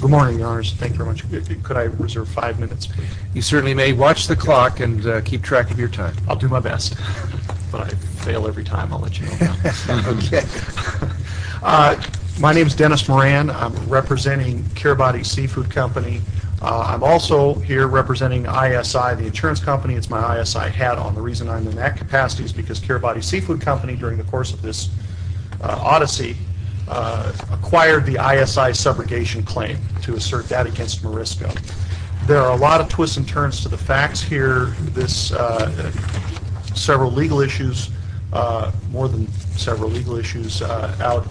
Good morning, Your Honors. Thank you very much. Could I reserve five minutes? You certainly may. Watch the clock and keep track of your time. I'll do my best, but I fail every time. I'll let you know. My name is Dennis Moran. I'm representing Kiribati Seafood Company. I'm also here representing ISI, the insurance company. It's my ISI hat on. The reason I'm in that capacity is because Kiribati Seafood Company, during the course of this odyssey, acquired the ISI subrogation claim, to assert that against Morisco. There are a lot of twists and turns to the facts here, several legal issues, more than several legal issues out.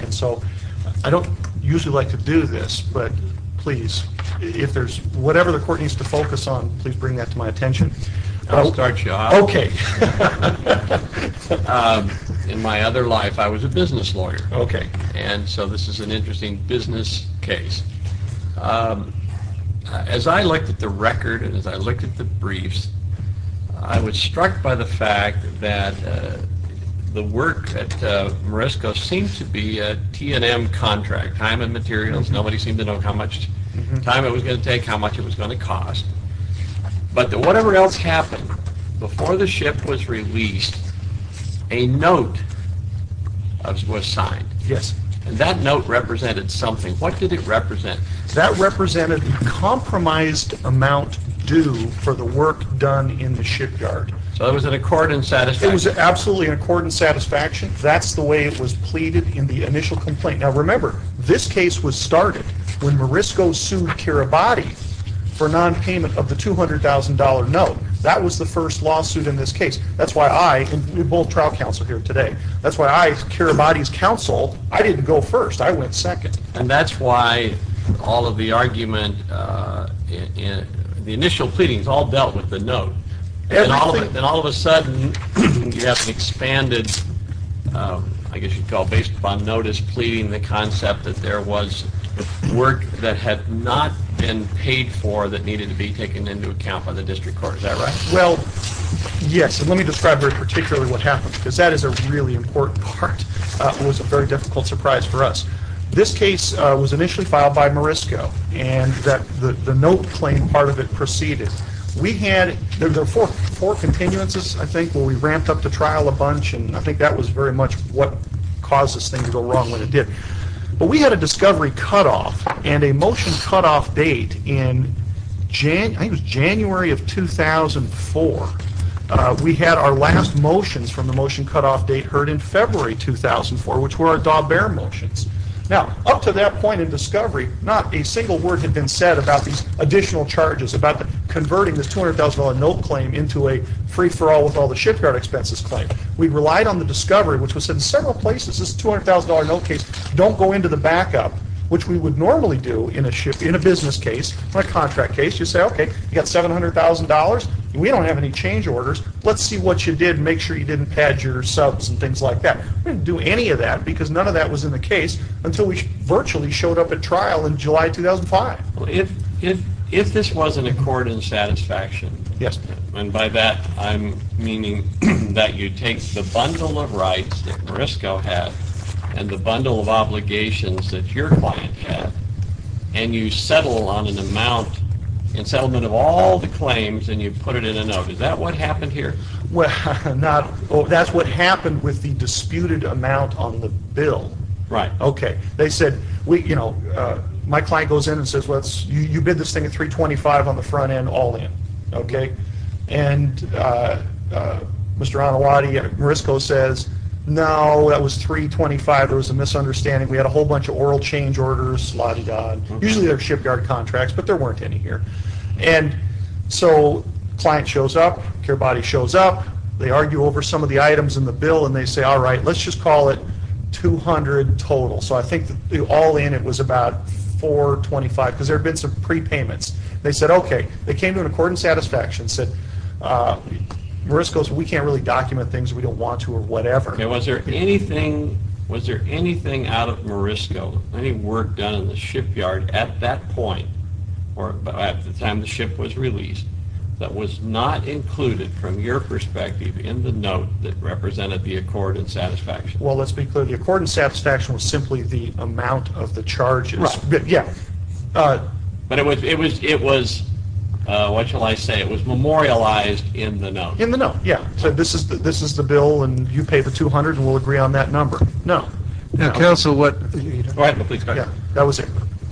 I don't usually like to do this, but please, if there's whatever the court needs to focus on, please bring that to my attention. I'll start you off. In my other life, I was a business lawyer, and so this is an interesting business case. As I looked at the record and as I looked at the briefs, I was struck by the fact that the work at Morisco seemed to be a T&M contract. Nobody seemed to know how much time it was going to take, how much it was going to cost. But whatever else happened, before the ship was released, a note was signed. That note represented something. What did it represent? That represented a compromised amount due for the work done in the shipyard. So it was an accord and satisfaction? It was absolutely an accord and satisfaction. That's the way it was pleaded in the initial complaint. Now remember, this case was started when Morisco sued Kiribati for nonpayment of the $200,000 note. That was the first lawsuit in this case. That's why I, we're both trial counsel here today, that's why I, Kiribati's counsel, I didn't go first, I went second. And that's why all of the argument, the initial pleadings all dealt with the note. And all of a sudden, you have an expanded, I guess you'd call based upon notice, pleading, the concept that there was work that had not been paid for that needed to be taken into account by the district court. Is that right? Well, yes. And let me describe very particularly what happened, because that is a really important part. It was a very difficult surprise for us. This case was initially filed by Morisco, and the note claim part of it proceeded. We had, there were four continuances, I think, where we ramped up to trial a bunch, and I think that was very much what caused this thing to go wrong when it did. But we had a discovery cutoff and a motion cutoff date in, I think it was January of 2004. We had our last motions from the motion cutoff date heard in February 2004, which were our Daubert motions. Now, up to that point in discovery, not a single word had been said about these additional charges, about converting this $200,000 note claim into a free-for-all with all the shipyard expenses claim. We relied on the discovery, which was said in several places, this $200,000 note case, don't go into the backup, which we would normally do in a business case or a contract case. You say, okay, you've got $700,000 and we don't have any change orders. Let's see what you did and make sure you didn't pad your subs and things like that. We didn't do any of that because none of that was in the case until we virtually showed up at trial in July 2005. If this was an accord in satisfaction, and by that I'm meaning that you take the bundle of rights that Morisco had and the bundle of obligations that your client had and you settle on an amount in settlement of all the claims and you put it in a note, is that what happened here? Well, that's what happened with the disputed amount on the bill. Right. Okay. They said, you know, my client goes in and says, well, you bid this thing at $325,000 on the front end, all in. Okay. And Mr. Anawati at Morisco says, no, that was $325,000. There was a misunderstanding. We had a whole bunch of oral change orders, la-di-da. Usually they're shipyard contracts, but there weren't any here. And so client shows up, care body shows up. They argue over some of the items in the bill and they say, all right, let's just call it $200,000 total. So I think all in it was about $425,000 because there had been some prepayments. They said, okay. They came to an accord and satisfaction and said, Morisco says, we can't really document things we don't want to or whatever. Okay. Was there anything out of Morisco, any work done in the shipyard at that point or at the time the ship was released, that was not included from your perspective in the note that represented the accord and satisfaction? Well, let's be clear. The accord and satisfaction was simply the amount of the charges. Right. Yeah. But it was, what shall I say, it was memorialized in the note. In the note. Yeah. So this is the bill and you pay the $200,000 and we'll agree on that number. No. Counsel, what... Go ahead. That was it.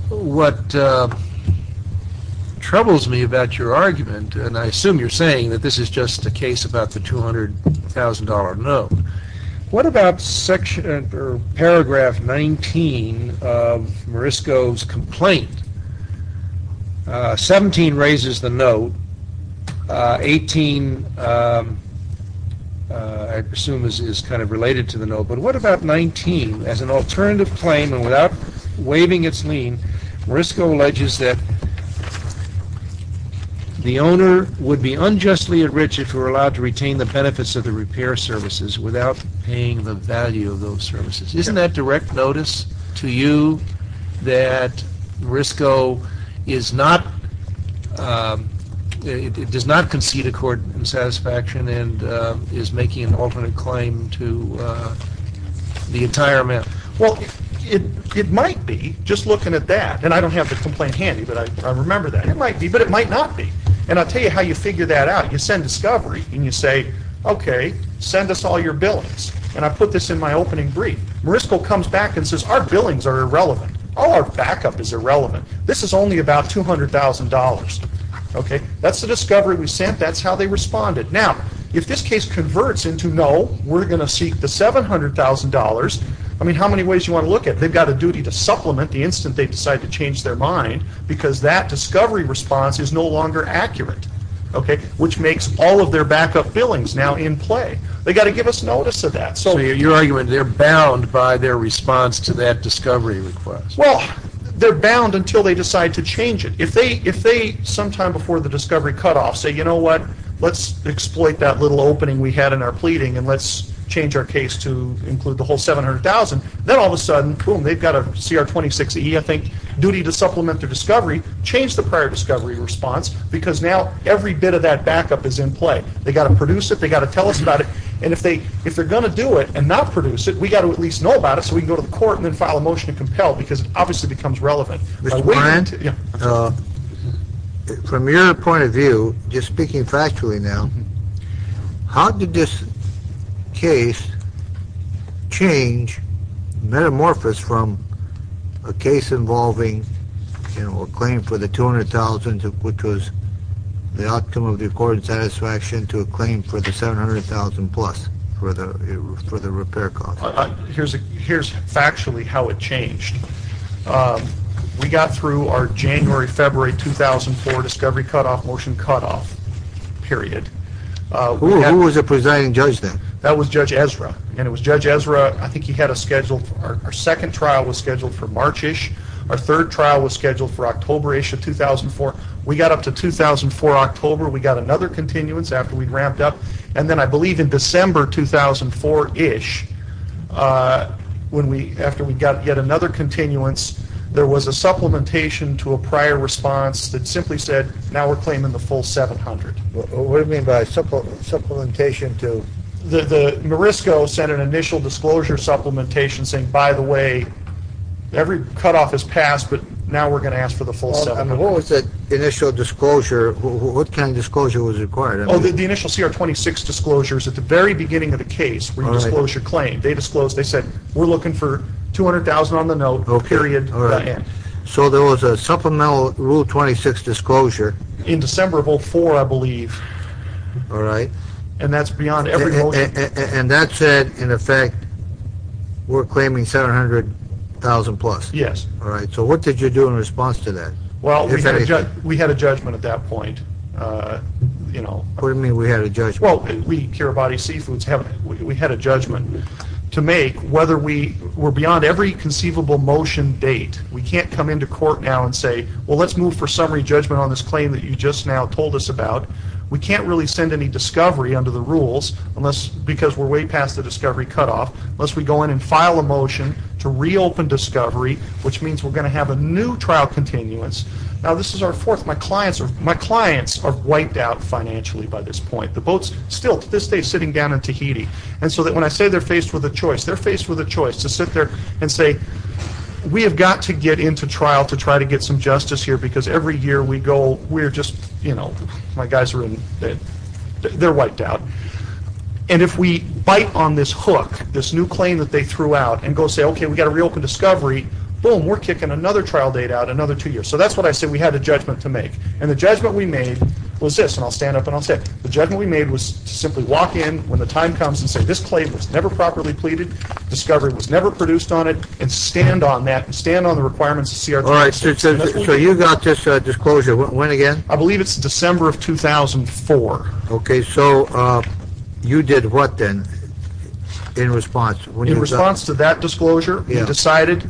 What troubles me about your argument, and I assume you're saying that this is just a case about the $200,000 note. What about paragraph 19 of Morisco's complaint? 17 raises the note. 18, I assume, is kind of related to the note. But what about 19? As an alternative claim and without waiving its lien, Morisco alleges that the owner would be unjustly enriched if he were allowed to retain the benefits of the repair services without paying the value of those services. Isn't that direct notice to you that Morisco does not concede accord and satisfaction and is making an alternate claim to the entire amount? Well, it might be, just looking at that. And I don't have the complaint handy, but I remember that. It might be, but it might not be. And I'll tell you how you figure that out. You send discovery and you say, okay, send us all your billings. And I put this in my opening brief. Morisco comes back and says, our billings are irrelevant. All our backup is irrelevant. This is only about $200,000. That's the discovery we sent. That's how they responded. Now, if this case converts into, no, we're going to seek the $700,000, I mean, how many ways do you want to look at it? They've got a duty to supplement the instant they decide to change their mind because that discovery response is no longer accurate, okay, which makes all of their backup billings now in play. They've got to give us notice of that. So your argument is they're bound by their response to that discovery request. Well, they're bound until they decide to change it. If they, sometime before the discovery cutoff, say, you know what, let's exploit that little opening we had in our pleading and let's change our case to include the whole $700,000. Then all of a sudden, boom, they've got a CR 26E, I think, duty to supplement their discovery, change the prior discovery response because now every bit of that backup is in play. They've got to produce it. They've got to tell us about it. And if they're going to do it and not produce it, we've got to at least know about it so we can go to the court and then file a motion to compel because it obviously becomes relevant. Mr. Warren, from your point of view, just speaking factually now, how did this case change metamorphosis from a case involving a claim for the $200,000, which was the outcome of the accorded satisfaction, to a claim for the $700,000-plus for the repair cost? Here's factually how it changed. We got through our January-February 2004 discovery cutoff-motion cutoff period. Who was the presiding judge then? That was Judge Ezra. And it was Judge Ezra, I think he had a schedule, our second trial was scheduled for March-ish. Our third trial was scheduled for October-ish of 2004. We got up to 2004-October. We got another continuance after we'd ramped up. And then I believe in December 2004-ish, after we got yet another continuance, there was a supplementation to a prior response that simply said, now we're claiming the full $700,000. What do you mean by supplementation to? The Morisco sent an initial disclosure supplementation saying, by the way, every cutoff has passed, but now we're going to ask for the full $700,000. What was that initial disclosure? What kind of disclosure was required? The initial CR 26 disclosure is at the very beginning of the case where you disclose your claim. They disclosed, they said, we're looking for $200,000 on the note, period. So there was a supplemental Rule 26 disclosure. In December of 2004, I believe. And that's beyond every motion. And that said, in effect, we're claiming $700,000 plus. Yes. So what did you do in response to that? Well, we had a judgment at that point. What do you mean we had a judgment? Well, we, Carabati Seafoods, we had a judgment to make whether we were beyond every conceivable motion date. We can't come into court now and say, well, let's move for summary judgment on this claim that you just now told us about. We can't really send any discovery under the rules because we're way past the discovery cutoff. Unless we go in and file a motion to reopen discovery, which means we're going to have a new trial continuance. Now, this is our fourth. My clients are wiped out financially by this point. The boat's still to this day sitting down in Tahiti. And so when I say they're faced with a choice, they're faced with a choice to sit there and say, we have got to get into trial to try to get some justice here because every year we go, we're just, you know, my guys are in, they're wiped out. And if we bite on this hook, this new claim that they threw out and go say, okay, we've got to reopen discovery, boom, we're kicking another trial date out another two years. So that's what I said. We had a judgment to make. And the judgment we made was this. And I'll stand up and I'll say it. The judgment we made was to simply walk in when the time comes and say this claim was never properly pleaded, discovery was never produced on it, and stand on that and stand on the requirements of CRT. All right. So you got this disclosure. When again? I believe it's December of 2004. Okay. So you did what then in response? In response to that disclosure, we decided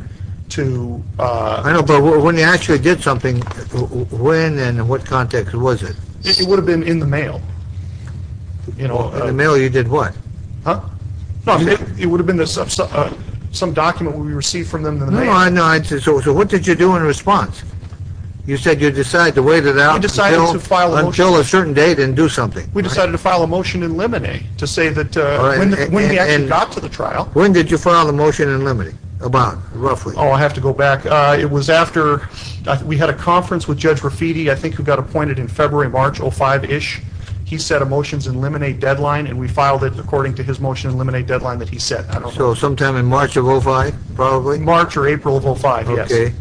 to. I know, but when you actually did something, when and in what context was it? It would have been in the mail. In the mail you did what? It would have been some document we received from them in the mail. So what did you do in response? You said you decided to wait it out until a certain date and do something. We decided to file a motion in limine to say that when we actually got to the trial. When did you file the motion in limine about roughly? Oh, I have to go back. It was after we had a conference with Judge Rafiti, I think who got appointed in February, March of 05-ish. He set a motions in limine deadline and we filed it according to his motion in limine deadline that he set. So sometime in March of 05 probably? March or April of 05, yes. Okay.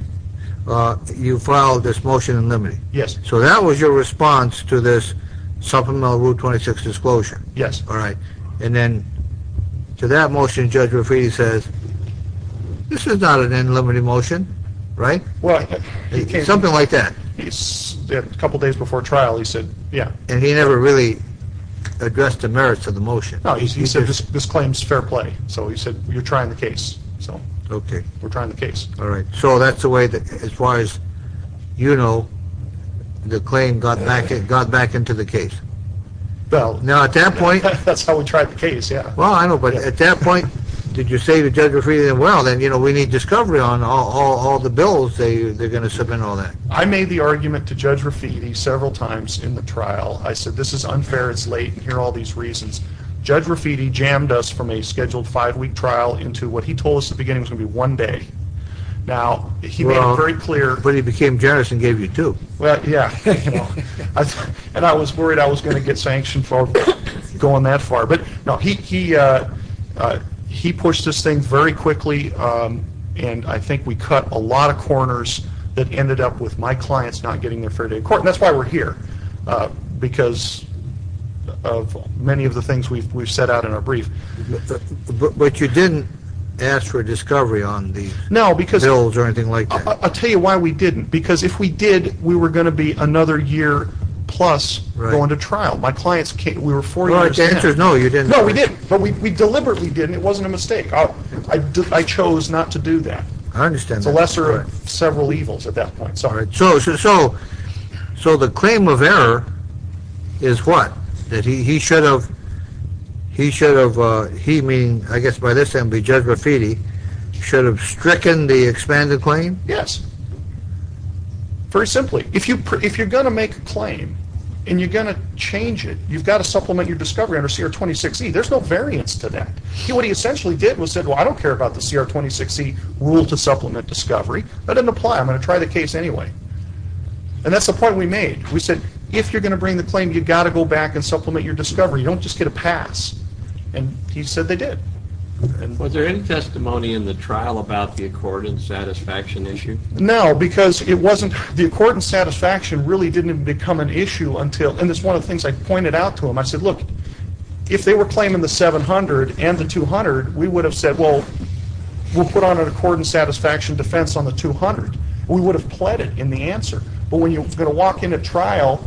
You filed this motion in limine. Yes. So that was your response to this supplemental rule 26 disclosure. Yes. All right. And then to that motion Judge Rafiti says, this is not an in limine motion, right? Something like that. A couple days before trial he said, yeah. And he never really addressed the merits of the motion. No, he said this claims fair play. So he said you're trying the case. Okay. We're trying the case. All right. So that's the way as far as you know the claim got back into the case. Well, that's how we tried the case, yeah. Well, I know. But at that point did you say to Judge Rafiti, well, then we need discovery on all the bills they're going to submit and all that. I made the argument to Judge Rafiti several times in the trial. I said this is unfair, it's late, and here are all these reasons. Judge Rafiti jammed us from a scheduled five-week trial into what he told us at the beginning was going to be one day. Now, he made it very clear. But he became generous and gave you two. Yeah. And I was worried I was going to get sanctioned for going that far. But, no, he pushed this thing very quickly, and I think we cut a lot of corners that ended up with my clients not getting their fair day in court. And that's why we're here, because of many of the things we've set out in our brief. But you didn't ask for discovery on the bills or anything like that. No, because I'll tell you why we didn't. Because if we did, we were going to be another year plus going to trial. My clients came. We were four years in. No, you didn't. No, we didn't. But we deliberately didn't. It wasn't a mistake. I chose not to do that. I understand that. It's the lesser of several evils at that point. So the claim of error is what? That he should have, he meaning, I guess by this time be Judge Raffiti, should have stricken the expanded claim? Yes. Very simply. If you're going to make a claim and you're going to change it, you've got to supplement your discovery under CR 26E. There's no variance to that. What he essentially did was said, well, I don't care about the CR 26E rule to supplement discovery. That didn't apply. I'm going to try the case anyway. And that's the point we made. We said, if you're going to bring the claim, you've got to go back and supplement your discovery. You don't just get a pass. And he said they did. Was there any testimony in the trial about the accordance satisfaction issue? No, because it wasn't, the accordance satisfaction really didn't become an issue until, and it's one of the things I pointed out to him. I said, look, if they were claiming the 700 and the 200, we would have said, well, we'll put on an accordance satisfaction defense on the 200. We would have pled it in the answer. But when you're going to walk in a trial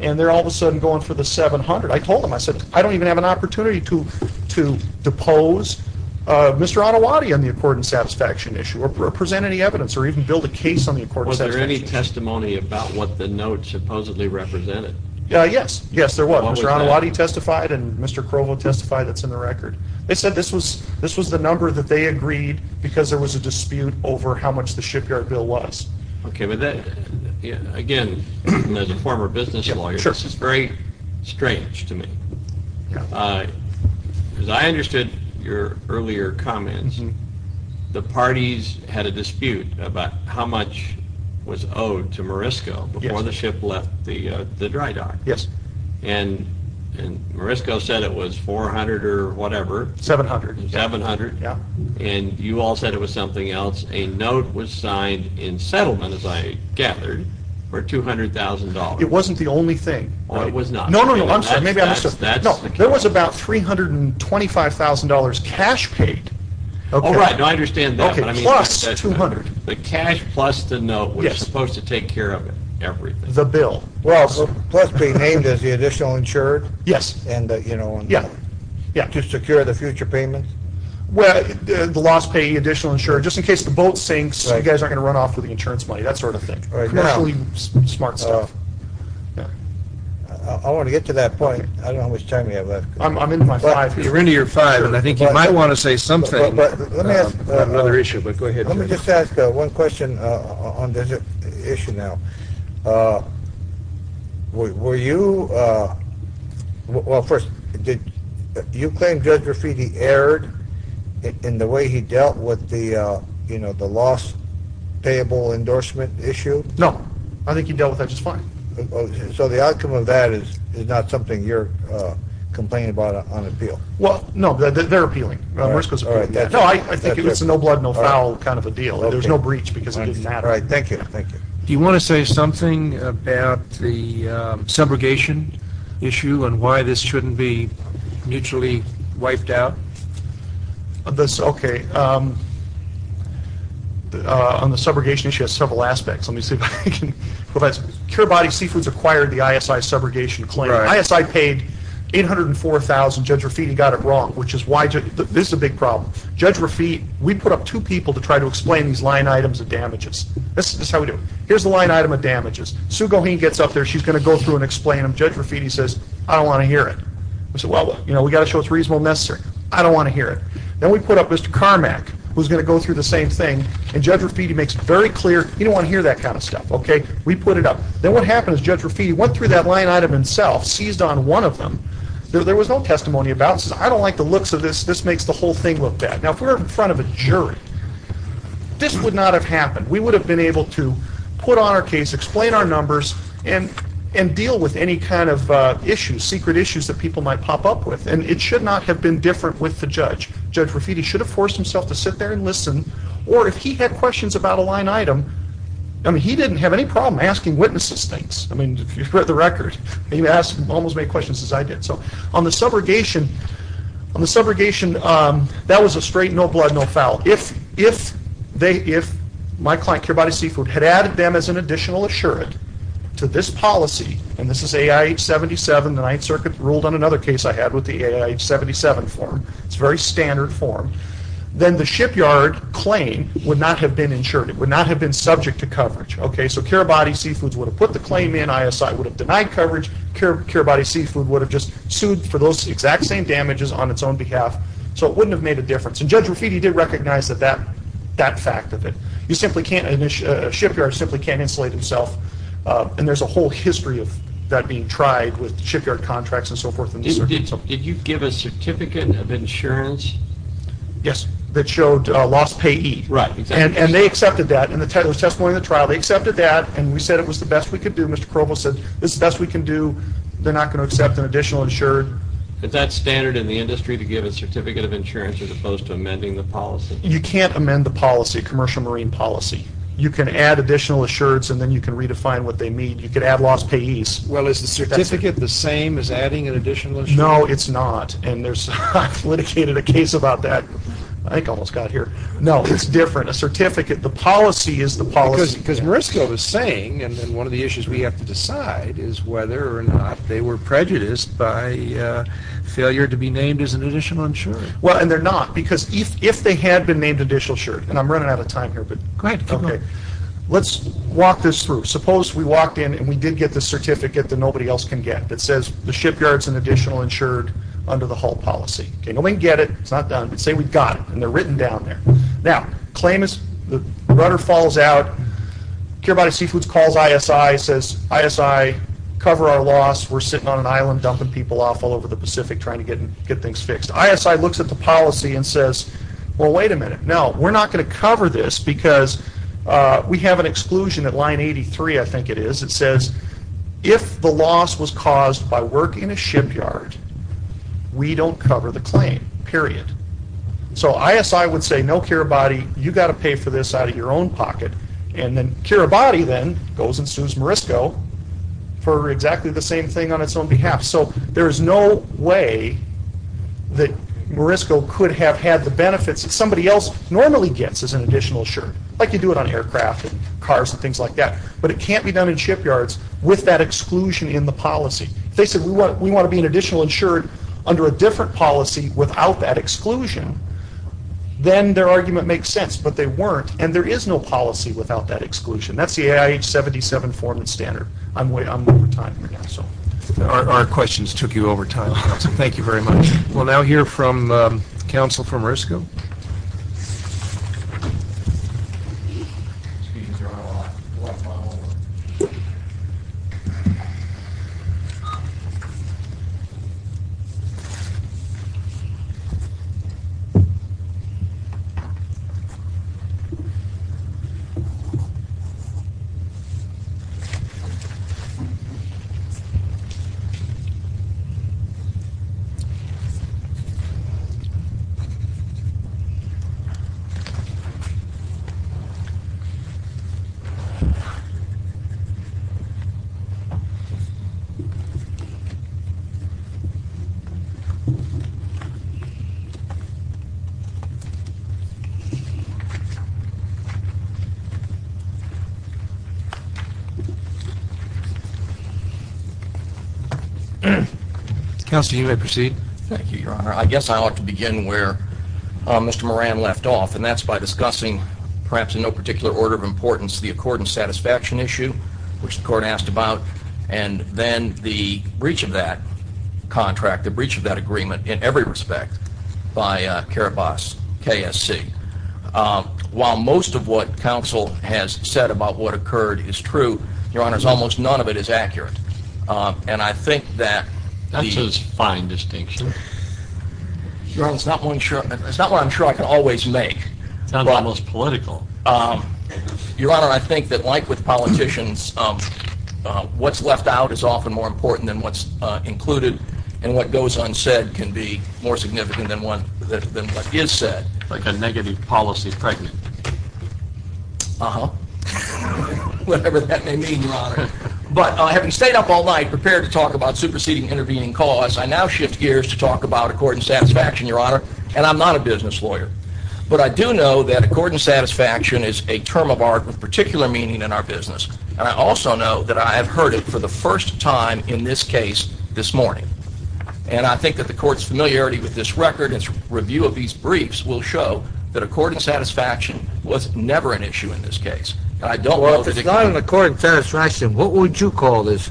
and they're all of a sudden going for the 700, I told him, I said, I don't even have an opportunity to depose Mr. Onowati on the accordance satisfaction issue or present any evidence or even build a case on the accordance satisfaction issue. Was there any testimony about what the note supposedly represented? Yes. Yes, there was. Mr. Onowati testified and Mr. Krovo testified. It's in the record. They said this was the number that they agreed because there was a dispute over how much the shipyard bill was. Okay. Again, as a former business lawyer, this is very strange to me. Because I understood your earlier comments. The parties had a dispute about how much was owed to Morisco before the ship left the dry dock. Yes. And Morisco said it was $400 or whatever. $700. $700. Yes. And you all said it was something else. A note was signed in settlement, as I gathered, for $200,000. It wasn't the only thing. It was not. No, no, no. There was about $325,000 cash paid. Oh, right. No, I understand that. Okay, plus $200,000. The cash plus the note was supposed to take care of everything. The bill. Well, plus being named as the additional insured? Yes. To secure the future payments? Well, the lost pay, the additional insured. Just in case the boat sinks, you guys aren't going to run off with the insurance money, that sort of thing. Commercially smart stuff. I want to get to that point. I don't know how much time we have left. I'm into my five. You're into your five, and I think you might want to say something. I have another issue, but go ahead. Let me just ask one question on this issue now. Were you – well, first, did you claim Judge Rafiti erred in the way he dealt with the lost payable endorsement issue? No. I think he dealt with that just fine. So the outcome of that is not something you're complaining about on appeal? Well, no, they're appealing. No, I think it's a no blood, no foul kind of a deal. There's no breach because it didn't matter. All right. Thank you. Do you want to say something about the subrogation issue and why this shouldn't be mutually wiped out? Okay. On the subrogation issue, it has several aspects. Let me see if I can – Cure Body Seafoods acquired the ISI subrogation claim. ISI paid $804,000. Judge Rafiti got it wrong, which is why – this is a big problem. Judge Rafiti – we put up two people to try to explain these line items of damages. This is how we do it. Here's the line item of damages. Sue Goheen gets up there. She's going to go through and explain them. Judge Rafiti says, I don't want to hear it. We said, well, we've got to show it's reasonable and necessary. I don't want to hear it. Then we put up Mr. Carmack, who's going to go through the same thing, and Judge Rafiti makes it very clear, you don't want to hear that kind of stuff, okay? We put it up. Then what happened is Judge Rafiti went through that line item himself, seized on one of them. There was no testimony about it. He says, I don't like the looks of this. This makes the whole thing look bad. Now, if we were in front of a jury, this would not have happened. We would have been able to put on our case, explain our numbers, and deal with any kind of issues, secret issues that people might pop up with, and it should not have been different with the judge. Judge Rafiti should have forced himself to sit there and listen, or if he had questions about a line item, he didn't have any problem asking witnesses things. I mean, if you've read the record, he asked almost as many questions as I did. On the subrogation, that was a straight no blood, no foul. If my client, Care Body Seafood, had added them as an additional assurant to this policy, and this is AIH-77, the Ninth Circuit ruled on another case I had with the AIH-77 form. It's a very standard form. Then the shipyard claim would not have been insured. It would not have been subject to coverage. So Care Body Seafood would have put the claim in. ISI would have denied coverage. Care Body Seafood would have just sued for those exact same damages on its own behalf, so it wouldn't have made a difference. And Judge Rafiti did recognize that fact of it. A shipyard simply can't insulate itself, and there's a whole history of that being tried with shipyard contracts and so forth. Did you give a certificate of insurance? Yes, that showed lost payee. Right, exactly. And they accepted that in the testimony of the trial. They accepted that, and we said it was the best we could do. Mr. Krobo said it's the best we can do. They're not going to accept an additional insured. Is that standard in the industry to give a certificate of insurance as opposed to amending the policy? You can't amend the policy, commercial marine policy. You can add additional insureds, and then you can redefine what they mean. You could add lost payees. Well, is the certificate the same as adding an additional insured? No, it's not, and I've litigated a case about that. I think I almost got here. No, it's different. A certificate, the policy is the policy. Because Marisco was saying, and one of the issues we have to decide, is whether or not they were prejudiced by failure to be named as an additional insured. Well, and they're not, because if they had been named additional insured, and I'm running out of time here, but let's walk this through. Suppose we walked in and we did get this certificate that nobody else can get that says the shipyard's an additional insured under the Hull policy. Nobody can get it. It's not done, but say we got it, and they're written down there. Now, claim is the rudder falls out. Care Body Seafoods calls ISI, says, ISI, cover our loss. We're sitting on an island dumping people off all over the Pacific trying to get things fixed. ISI looks at the policy and says, well, wait a minute. No, we're not going to cover this because we have an exclusion at line 83, I think it is. It says, if the loss was caused by work in a shipyard, we don't cover the claim, period. So ISI would say, no, Care Body, you've got to pay for this out of your own pocket, and then Care Body then goes and sues Morisco for exactly the same thing on its own behalf. So there's no way that Morisco could have had the benefits that somebody else normally gets as an additional insured, like you do it on aircraft and cars and things like that, but it can't be done in shipyards with that exclusion in the policy. If they said, we want to be an additional insured under a different policy without that exclusion, then their argument makes sense, but they weren't, and there is no policy without that exclusion. That's the AIH-77 form and standard. I'm over time here now, so. Our questions took you over time. Thank you very much. We'll now hear from counsel for Morisco. Thank you. Counsel, you may proceed. Thank you, Your Honor. I guess I ought to begin where Mr. Moran left off, and that's by discussing perhaps in no particular order of importance the accord and satisfaction issue, which the court asked about, and then the breach of that contract, the breach of that agreement in every respect by Karabas KSC. While most of what counsel has said about what occurred is true, Your Honor, almost none of it is accurate. And I think that the- That's a fine distinction. Your Honor, it's not one I'm sure I can always make. It's not almost political. Your Honor, I think that like with politicians, what's left out is often more important than what's included, and what goes unsaid can be more significant than what is said. Like a negative policy pregnant. Uh-huh. Whatever that may mean, Your Honor. But having stayed up all night prepared to talk about superseding intervening cause, I now shift gears to talk about accord and satisfaction, Your Honor, and I'm not a business lawyer. But I do know that accord and satisfaction is a term of art with particular meaning in our business, and I also know that I have heard it for the first time in this case this morning. And I think that the court's familiarity with this record and its review of these briefs will show that accord and satisfaction was never an issue in this case. Well, if it's not an accord and satisfaction, what would you call this?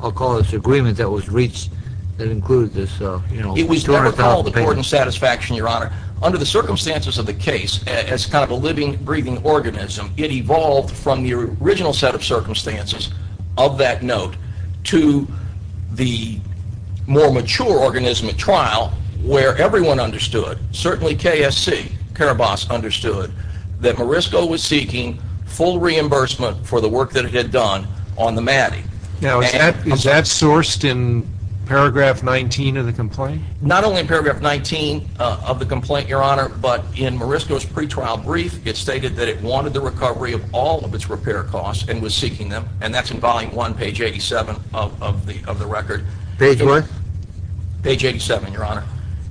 I'll call this agreement that was reached that included this. It was never called accord and satisfaction, Your Honor. Under the circumstances of the case, as kind of a living, breathing organism, it evolved from the original set of circumstances of that note to the more mature organism at trial where everyone understood, certainly KSC, Karabas understood, that Morisco was seeking full reimbursement for the work that it had done on the MADI. Now, is that sourced in paragraph 19 of the complaint? Not only in paragraph 19 of the complaint, Your Honor, but in Morisco's pre-trial brief it stated that it wanted the recovery of all of its repair costs and was seeking them, and that's in volume 1, page 87 of the record. Page what? Page 87, Your Honor.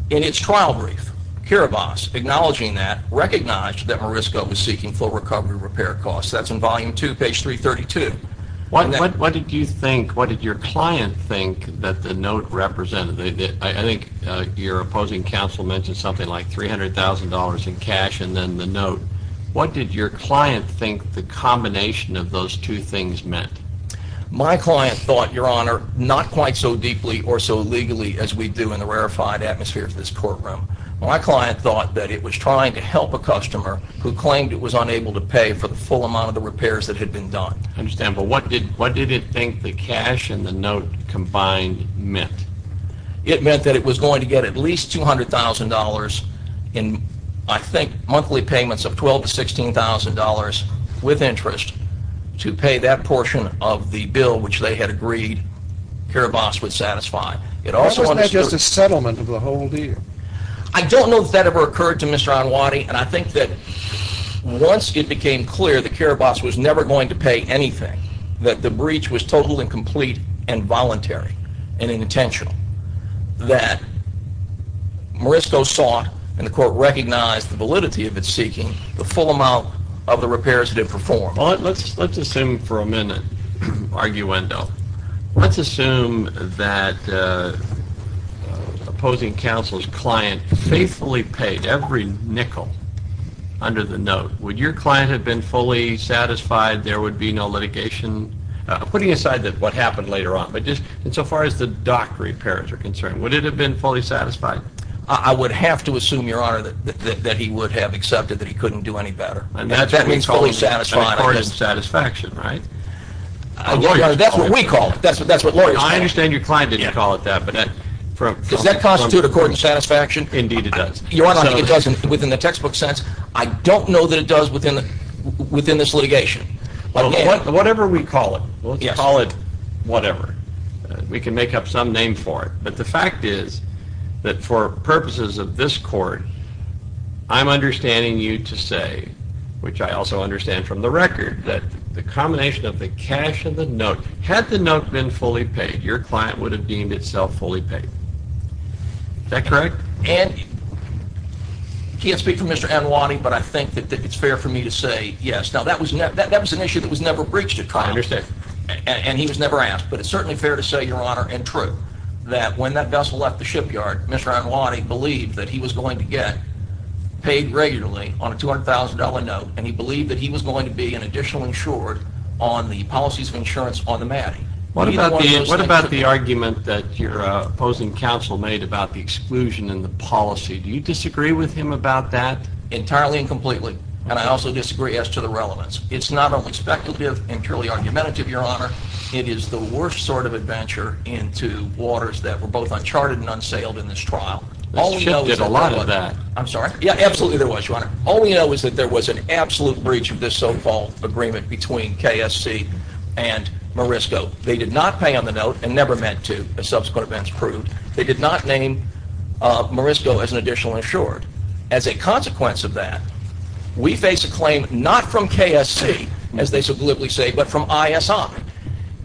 In its trial brief, Karabas, acknowledging that, recognized that Morisco was seeking full recovery of repair costs. That's in volume 2, page 332. What did your client think that the note represented? I think your opposing counsel mentioned something like $300,000 in cash and then the note. What did your client think the combination of those two things meant? My client thought, Your Honor, not quite so deeply or so legally as we do in the rarefied atmosphere of this courtroom. My client thought that it was trying to help a customer who claimed it was unable to pay for the full amount of the repairs that had been done. I understand, but what did it think the cash and the note combined meant? It meant that it was going to get at least $200,000 in, I think, monthly payments of $12,000 to $16,000 with interest to pay that portion of the bill which they had agreed Karabas would satisfy. Why wasn't that just a settlement of the whole deal? I don't know if that ever occurred to Mr. Onwati, and I think that once it became clear that Karabas was never going to pay anything, that the breach was total and complete and voluntary and intentional, that Morisco sought, and the court recognized the validity of its seeking, the full amount of the repairs that it performed. Let's assume for a minute, arguendo. Let's assume that opposing counsel's client faithfully paid every nickel under the note. Would your client have been fully satisfied there would be no litigation? Putting aside what happened later on, but just so far as the dock repairs are concerned, would it have been fully satisfied? I would have to assume, Your Honor, that he would have accepted that he couldn't do any better. That means fully satisfied. That's what we call it. That's what lawyers call it. I understand your client didn't call it that. Does that constitute a court in satisfaction? Indeed it does. Your Honor, it doesn't within the textbook sense. I don't know that it does within this litigation. Whatever we call it, let's call it whatever. We can make up some name for it. But the fact is that for purposes of this court, I'm understanding you to say, which I also understand from the record, that the combination of the cash and the note, had the note been fully paid, your client would have deemed itself fully paid. Is that correct? I can't speak for Mr. Anwani, but I think that it's fair for me to say yes. Now, that was an issue that was never breached at Congress, and he was never asked. But it's certainly fair to say, your Honor, and true, that when that vessel left the shipyard, Mr. Anwani believed that he was going to get paid regularly on a $200,000 note, and he believed that he was going to be an additional insured on the policies of insurance on the Maddie. What about the argument that your opposing counsel made about the exclusion in the policy? Do you disagree with him about that? Entirely and completely. And I also disagree as to the relevance. It's not only speculative and purely argumentative, your Honor. It is the worst sort of adventure into waters that were both uncharted and unsailed in this trial. The ship did a lot of that. I'm sorry? Yeah, absolutely there was, your Honor. All we know is that there was an absolute breach of this so-called agreement between KSC and Morisco. They did not pay on the note and never meant to, as subsequent events proved. They did not name Morisco as an additional insured. As a consequence of that, we face a claim not from KSC, as they so glibly say, but from ISI.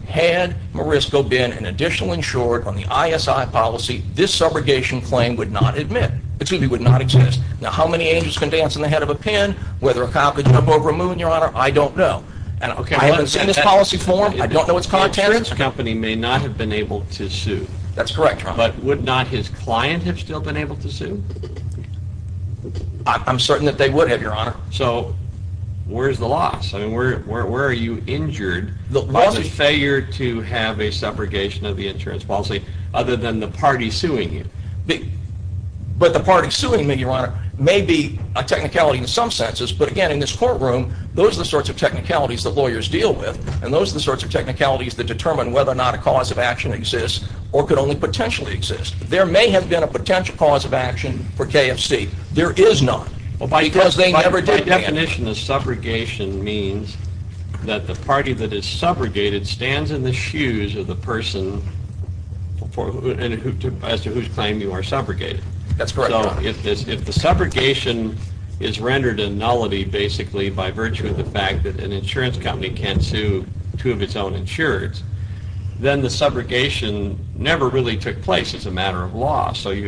Had Morisco been an additional insured on the ISI policy, this subrogation claim would not exist. Now, how many angels can dance on the head of a pin? Whether a cow could jump over a moon, your Honor, I don't know. I haven't seen this policy form. I don't know its contents. The insurance company may not have been able to sue. That's correct, your Honor. But would not his client have still been able to sue? I'm certain that they would have, your Honor. So, where's the loss? I mean, where are you injured by the failure to have a subrogation of the insurance policy, other than the party suing you? But the party suing me, your Honor, may be a technicality in some senses. But again, in this courtroom, those are the sorts of technicalities that lawyers deal with. And those are the sorts of technicalities that determine whether or not a cause of action exists or could only potentially exist. There may have been a potential cause of action for KFC. There is not. Well, by definition, the subrogation means that the party that is subrogated stands in the shoes of the person as to whose claim you are subrogated. That's correct, your Honor. So you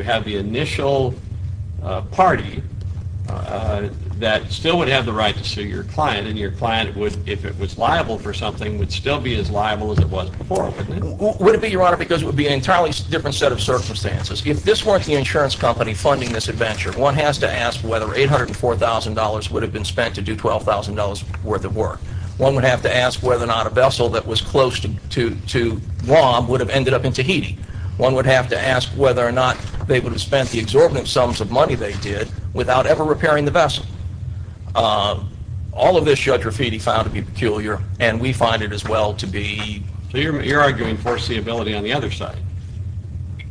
have the initial party that still would have the right to sue your client. And your client, if it was liable for something, would still be as liable as it was before, wouldn't it? Would it be, your Honor? Because it would be an entirely different set of circumstances. If this weren't the insurance company funding this adventure, one has to ask whether $804,000 would have been spent to do $12,000 worth of work. One would have to ask whether or not a vessel that was close to Guam would have ended up in Tahiti. One would have to ask whether or not they would have spent the exorbitant sums of money they did without ever repairing the vessel. All of this Judge Rafiti found to be peculiar, and we find it as well to be... So you're arguing foreseeability on the other side.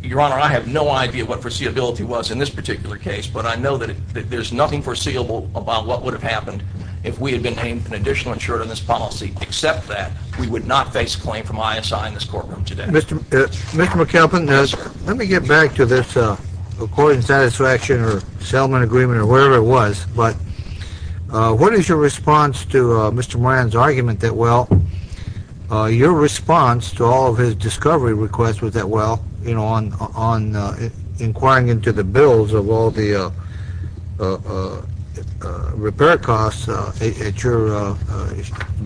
Your Honor, I have no idea what foreseeability was in this particular case, but I know that there's nothing foreseeable about what would have happened if we had been named an additional insurer in this policy. Except that we would not face a claim from ISI in this courtroom today. Mr. McCalpin, let me get back to this accord and satisfaction or settlement agreement or whatever it was. But what is your response to Mr. Moran's argument that, well, your response to all of his discovery requests was that, well, inquiring into the bills of all the repair costs at your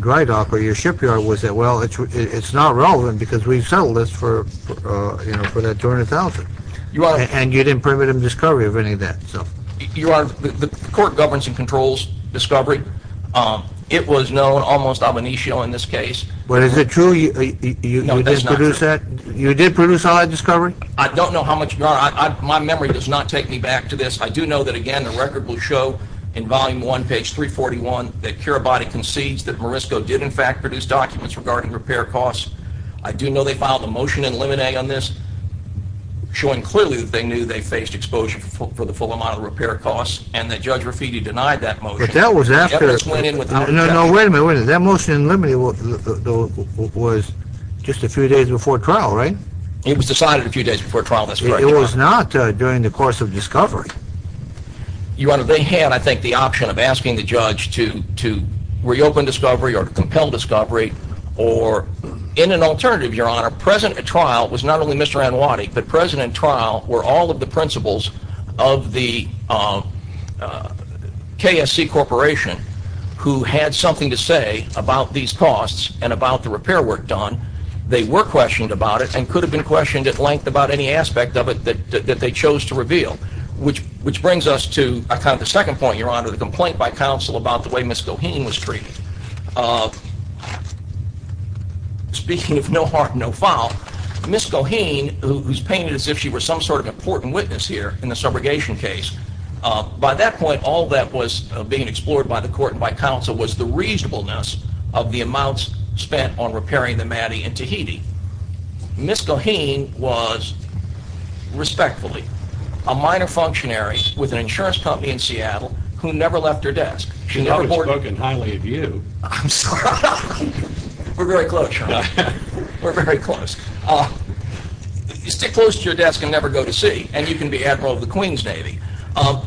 dry dock or your shipyard was that, well, it's not relevant because we settled this for that $200,000. And you didn't permit him discovery of any of that. Your Honor, the court governs and controls discovery. It was known almost ab initio in this case. But is it true you did produce that? No, that's not true. I don't know how much, Your Honor. My memory does not take me back to this. I do know that, again, the record will show in Volume 1, page 341, that Curabati concedes that Morisco did, in fact, produce documents regarding repair costs. I do know they filed a motion in limine on this, showing clearly that they knew they faced exposure for the full amount of repair costs and that Judge Rafiti denied that motion. But that was after... Let me explain it without... No, no, wait a minute, wait a minute. That motion in limine was just a few days before trial, right? It was decided a few days before trial, that's correct, Your Honor. It was not during the course of discovery. Your Honor, they had, I think, the option of asking the judge to reopen discovery or to compel discovery or, in an alternative, Your Honor, present at trial was not only Mr. Anwadi, but present at trial were all of the principals of the KSC Corporation who had something to say about these costs and about the repair work done. They were questioned about it and could have been questioned at length about any aspect of it that they chose to reveal. Which brings us to kind of the second point, Your Honor, the complaint by counsel about the way Ms. Goheen was treated. Speaking of no harm, no foul, Ms. Goheen, who's painted as if she were some sort of important witness here in the subrogation case, by that point, all that was being explored by the court and by counsel was the reasonableness of the amounts spent on repairing the Maddie and Tahiti. Ms. Goheen was, respectfully, a minor functionary with an insurance company in Seattle who never left her desk. She never boarded— I would have spoken highly of you. I'm sorry. We're very close, Your Honor. We're very close. You stick close to your desk and never go to sea, and you can be Admiral of the Queen's Navy.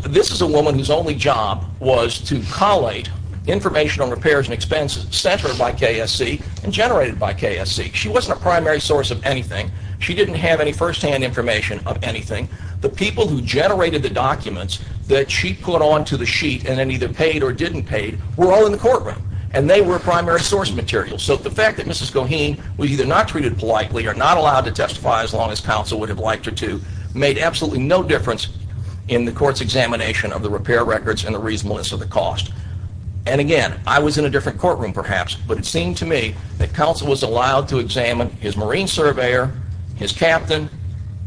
This is a woman whose only job was to collate information on repairs and expenses sent her by KSC and generated by KSC. She wasn't a primary source of anything. She didn't have any firsthand information of anything. The people who generated the documents that she put onto the sheet and then either paid or didn't pay were all in the courtroom, and they were primary source materials. So the fact that Mrs. Goheen was either not treated politely or not allowed to testify as long as counsel would have liked her to made absolutely no difference in the court's examination of the repair records and the reasonableness of the cost. And again, I was in a different courtroom, perhaps, but it seemed to me that counsel was allowed to examine his marine surveyor, his captain,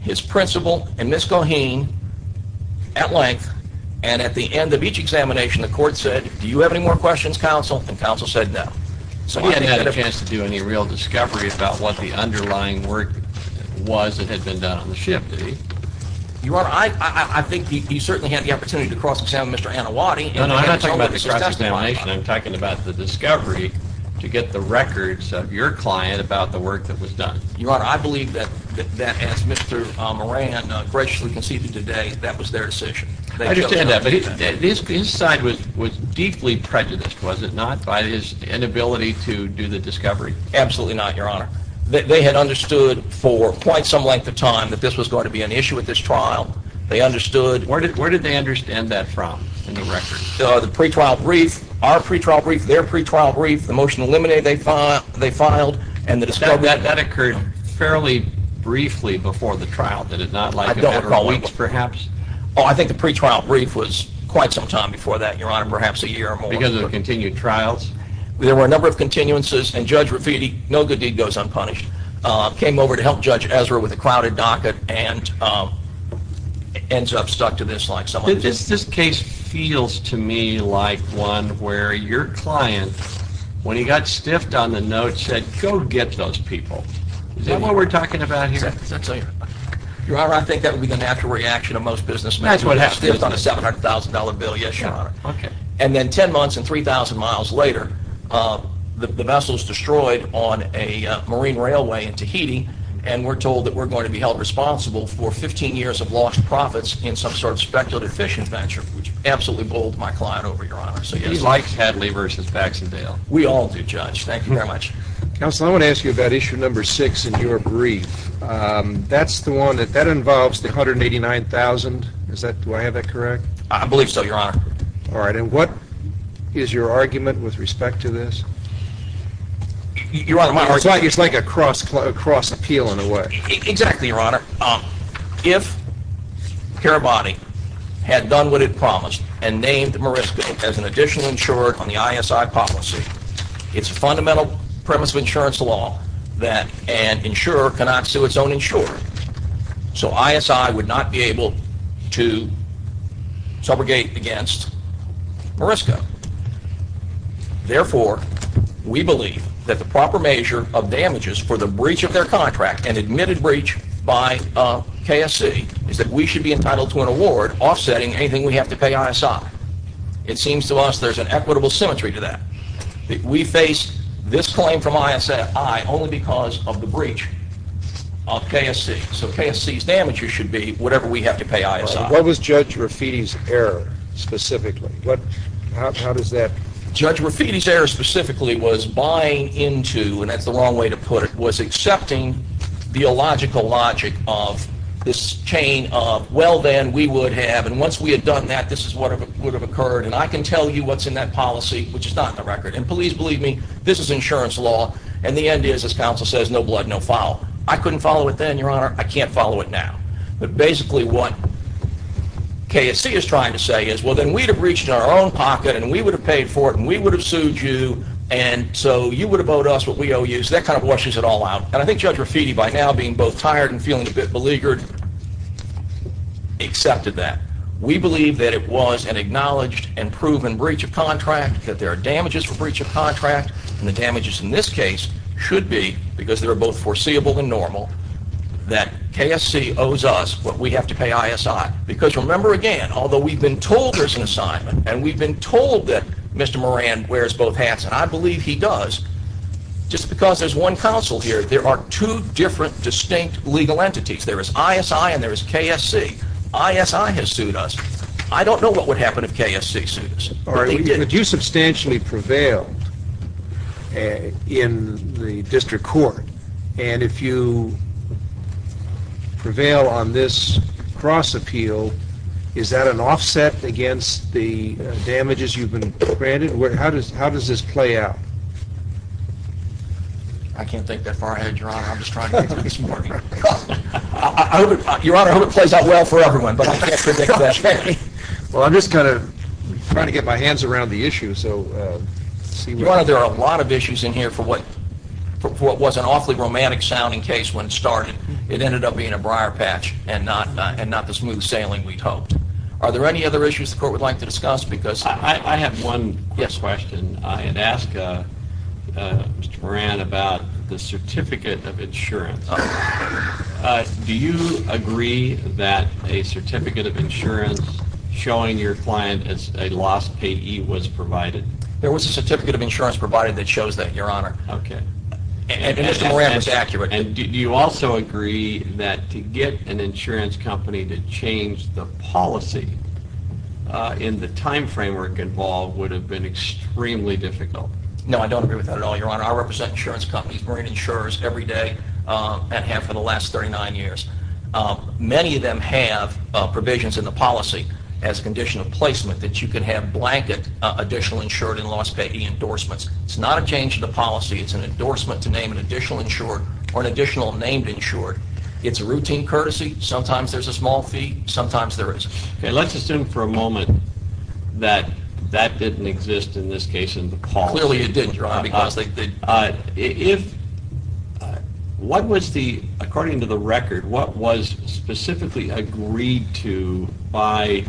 his principal, and Ms. Goheen at length, and at the end of each examination, the court said, Do you have any more questions, counsel? And counsel said no. So he hadn't had a chance to do any real discovery about what the underlying work was that had been done on the ship, did he? Your Honor, I think he certainly had the opportunity to cross-examine Mr. Anawati. No, no, I'm not talking about the cross-examination. I'm talking about the discovery to get the records of your client about the work that was done. Your Honor, I believe that as Mr. Moran graciously conceded today, that was their decision. I understand that, but his side was deeply prejudiced, was it not, by his inability to do the discovery? Absolutely not, Your Honor. They had understood for quite some length of time that this was going to be an issue at this trial. They understood. Where did they understand that from in the records? The pre-trial brief, our pre-trial brief, their pre-trial brief, the motion to eliminate they filed, and the discovery. That occurred fairly briefly before the trial, did it not? I don't recall. Oh, I think the pre-trial brief was quite some time before that, Your Honor, perhaps a year or more. Because of the continued trials? There were a number of continuances, and Judge Rivitti, no good deed goes unpunished, came over to help Judge Ezra with a crowded docket and ends up stuck to this like someone did. This case feels to me like one where your client, when he got stiffed on the note, said, go get those people. Is that what we're talking about here? Your Honor, I think that would be the natural reaction of most businessmen. That's what happens. Stiffed on a $700,000 bill, yes, Your Honor. Okay. And then 10 months and 3,000 miles later, the vessel is destroyed on a marine railway in Tahiti, and we're told that we're going to be held responsible for 15 years of lost profits in some sort of speculative fish inventory, which absolutely bowled my client over, Your Honor. He likes Hadley v. Baxendale. We all do, Judge. Thank you very much. Counsel, I want to ask you about issue number six in your brief. That's the one that involves the $189,000. Do I have that correct? I believe so, Your Honor. All right. And what is your argument with respect to this? Your Honor, my argument is... It's like a cross-appeal in a way. Exactly, Your Honor. If Karabati had done what it promised and named Morisco as an additional insurer on the ISI policy, it's a fundamental premise of insurance law that an insurer cannot sue its own insurer. So ISI would not be able to subrogate against Morisco. Therefore, we believe that the proper measure of damages for the breach of their contract, an admitted breach by KSC, is that we should be entitled to an award offsetting anything we have to pay ISI. It seems to us there's an equitable symmetry to that. We face this claim from ISI only because of the breach of KSC. So KSC's damages should be whatever we have to pay ISI. What was Judge Rafiti's error specifically? How does that... Judge Rafiti's error specifically was buying into, and that's the wrong way to put it, was accepting the illogical logic of this chain of, well, then we would have, and once we had done that, this is what would have occurred, and I can tell you what's in that policy, which is not in the record. And please believe me, this is insurance law, and the end is, as counsel says, no blood, no foul. I couldn't follow it then, Your Honor. I can't follow it now. But basically what KSC is trying to say is, well, then we'd have reached our own pocket, and we would have paid for it, and we would have sued you, and so you would have owed us what we owe you, so that kind of washes it all out. And I think Judge Rafiti, by now being both tired and feeling a bit beleaguered, accepted that. We believe that it was an acknowledged and proven breach of contract, that there are damages for breach of contract, and the damages in this case should be, because they're both foreseeable and normal, that KSC owes us what we have to pay ISI. Because remember again, although we've been told there's an assignment, and we've been told that Mr. Moran wears both hats, and I believe he does, just because there's one counsel here, there are two different distinct legal entities. There is ISI and there is KSC. ISI has sued us. I don't know what would happen if KSC sued us. But you substantially prevailed in the district court, and if you prevail on this cross-appeal, is that an offset against the damages you've been granted? How does this play out? I can't think that far ahead, Your Honor. I'm just trying to think this morning. Your Honor, I hope it plays out well for everyone, but I can't predict that. Okay. Well, I'm just kind of trying to get my hands around the issue. Your Honor, there are a lot of issues in here. For what was an awfully romantic-sounding case when it started, it ended up being a briar patch and not the smooth sailing we'd hoped. Are there any other issues the Court would like to discuss? I have one question. I had asked Mr. Moran about the certificate of insurance. Do you agree that a certificate of insurance showing your client a lost payee was provided? There was a certificate of insurance provided that shows that, Your Honor. Okay. And Mr. Moran was accurate. And do you also agree that to get an insurance company to change the policy in the time framework involved would have been extremely difficult? Your Honor, I represent insurance companies bringing insurers every day and have for the last 39 years. Many of them have provisions in the policy as a condition of placement that you can have blanket additional insured and lost payee endorsements. It's not a change in the policy. It's an endorsement to name an additional insured or an additional named insured. It's a routine courtesy. Sometimes there's a small fee. Sometimes there isn't. Okay. Let's assume for a moment that that didn't exist in this case in the policy. It didn't, Your Honor. According to the record, what was specifically agreed to by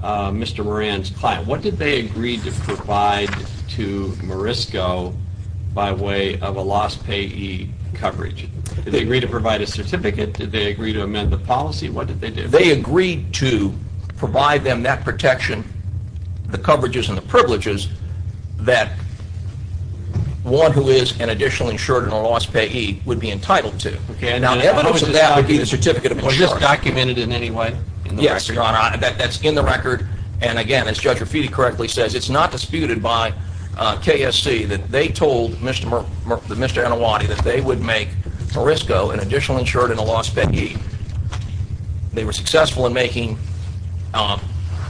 Mr. Moran's client? What did they agree to provide to Morisco by way of a lost payee coverage? Did they agree to provide a certificate? Did they agree to amend the policy? What did they do? They agreed to provide them that protection, the coverages and the privileges, that one who is an additional insured and a lost payee would be entitled to. Now, evidence of that would be the certificate of insurance. Was this documented in any way in the record? Yes, Your Honor. That's in the record. And, again, as Judge Rafiti correctly says, it's not disputed by KSC that they told Mr. Anawadi that they would make Morisco an additional insured and a lost payee. They were successful in making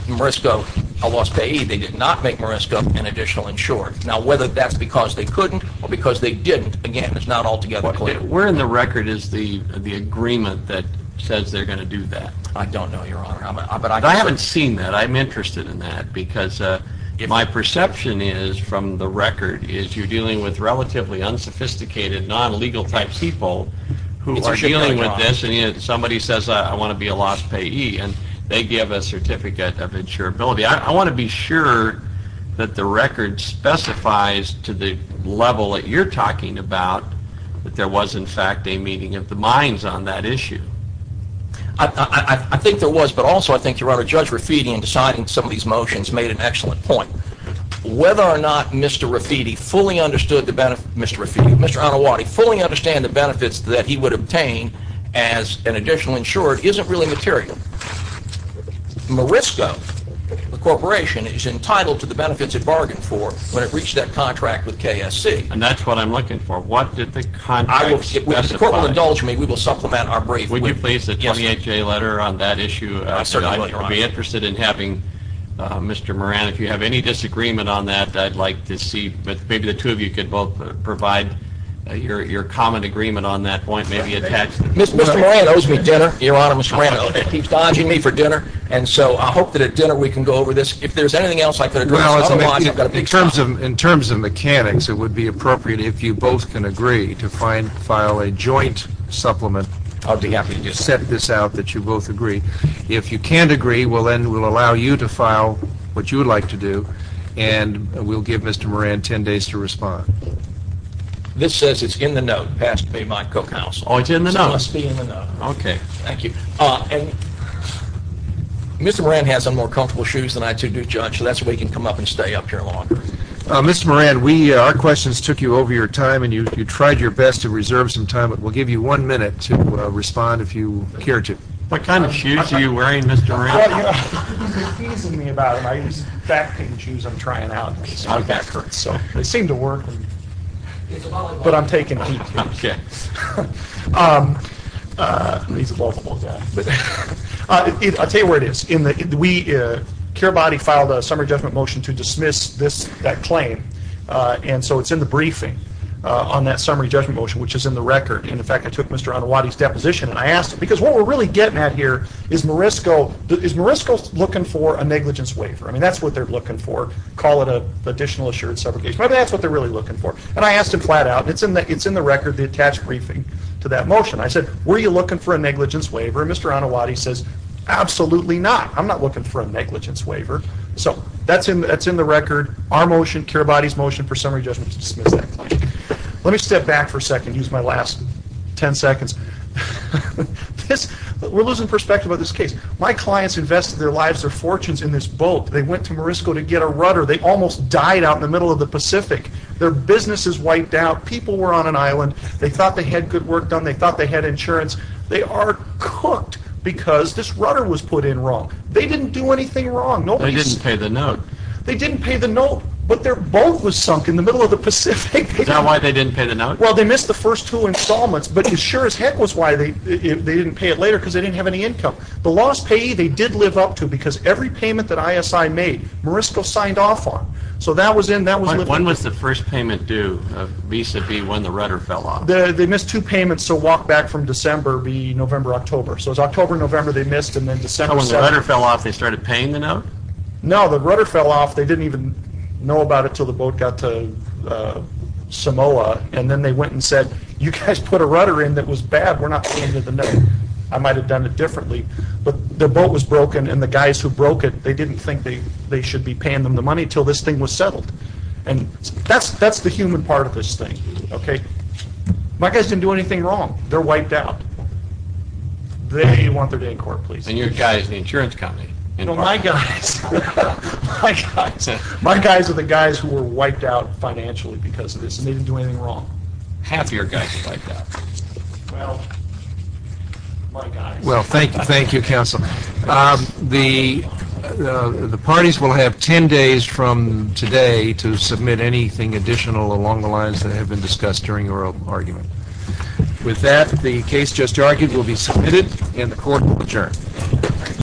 Morisco a lost payee. They did not make Morisco an additional insured. Now, whether that's because they couldn't or because they didn't, again, it's not altogether clear. Where in the record is the agreement that says they're going to do that? I don't know, Your Honor. I haven't seen that. I'm interested in that because my perception is, from the record, is you're dealing with relatively unsophisticated, non-legal type people who are dealing with this and somebody says, I want to be a lost payee, and they give a certificate of insurability. I want to be sure that the record specifies to the level that you're talking about that there was, in fact, a meeting of the minds on that issue. I think there was, but also I think, Your Honor, Judge Rafiti, in deciding some of these motions, made an excellent point. Whether or not Mr. Rafiti fully understood the benefits that he would obtain as an additional insured isn't really material. Morisco, the corporation, is entitled to the benefits it bargained for when it reached that contract with KSC. And that's what I'm looking for. What did the contract specify? If the court will indulge me, we will supplement our brief. Would you please, a 28-J letter on that issue? I certainly would, Your Honor. I'd be interested in having Mr. Moran, if you have any disagreement on that, I'd like to see, but maybe the two of you could both provide your common agreement on that point. Mr. Moran owes me dinner. Your Honor, Mr. Moran keeps dodging me for dinner, and so I hope that at dinner we can go over this. If there's anything else I could address, otherwise I've got a big slide. In terms of mechanics, it would be appropriate, if you both can agree, to file a joint supplement. I'll be happy to do that. Set this out that you both agree. If you can't agree, then we'll allow you to file what you would like to do, and we'll give Mr. Moran 10 days to respond. This says it's in the note passed by my co-counsel. Oh, it's in the note. It must be in the note. Okay. Thank you. Mr. Moran has some more comfortable shoes than I do, Judge, so that's why he can come up and stay up here longer. Mr. Moran, our questions took you over your time, and you tried your best to reserve some time, but we'll give you one minute to respond if you care to. What kind of shoes are you wearing, Mr. Moran? He's teasing me about them. I use back pain shoes. I'm trying out. My back hurts. They seem to work, but I'm taking heat. I'll tell you where it is. CARE Body filed a summary judgment motion to dismiss that claim, and so it's in the briefing on that summary judgment motion, which is in the record. In fact, I took Mr. Anawady's deposition, and I asked him, because what we're really getting at here is, is Morisco looking for a negligence waiver? I mean, that's what they're looking for. Call it an additional assured subrogation. Maybe that's what they're really looking for. And I asked him flat out, and it's in the record, the attached briefing to that motion. I said, were you looking for a negligence waiver? And Mr. Anawady says, absolutely not. I'm not looking for a negligence waiver. So that's in the record, our motion, CARE Body's motion for summary judgment to dismiss that claim. Let me step back for a second and use my last ten seconds. We're losing perspective on this case. My clients invested their lives, their fortunes in this boat. They went to Morisco to get a rudder. They almost died out in the middle of the Pacific. Their business is wiped out. People were on an island. They thought they had good work done. They thought they had insurance. They are cooked because this rudder was put in wrong. They didn't do anything wrong. They didn't pay the note. They didn't pay the note, but their boat was sunk in the middle of the Pacific. Is that why they didn't pay the note? Well, they missed the first two installments. But insurance, heck, was why they didn't pay it later because they didn't have any income. The lost payee they did live up to because every payment that ISI made, Morisco signed off on. So that was in. When was the first payment due vis-a-vis when the rudder fell off? They missed two payments. So walk back from December be November, October. So it was October, November they missed, and then December 7th. So when the rudder fell off, they started paying the note? No. The rudder fell off. They didn't even know about it until the boat got to Samoa, and then they went and said, you guys put a rudder in that was bad. We're not paying you the note. I might have done it differently. But the boat was broken, and the guys who broke it, they didn't think they should be paying them the money until this thing was settled. And that's the human part of this thing. My guys didn't do anything wrong. They're wiped out. They want their day in court, please. And your guy is the insurance company. My guys are the guys who were wiped out financially because of this, and they didn't do anything wrong. Half of your guys are wiped out. Well, my guys. Well, thank you, counsel. The parties will have 10 days from today to submit anything additional along the lines that have been discussed during your argument. With that, the case just argued will be submitted, and the court will adjourn.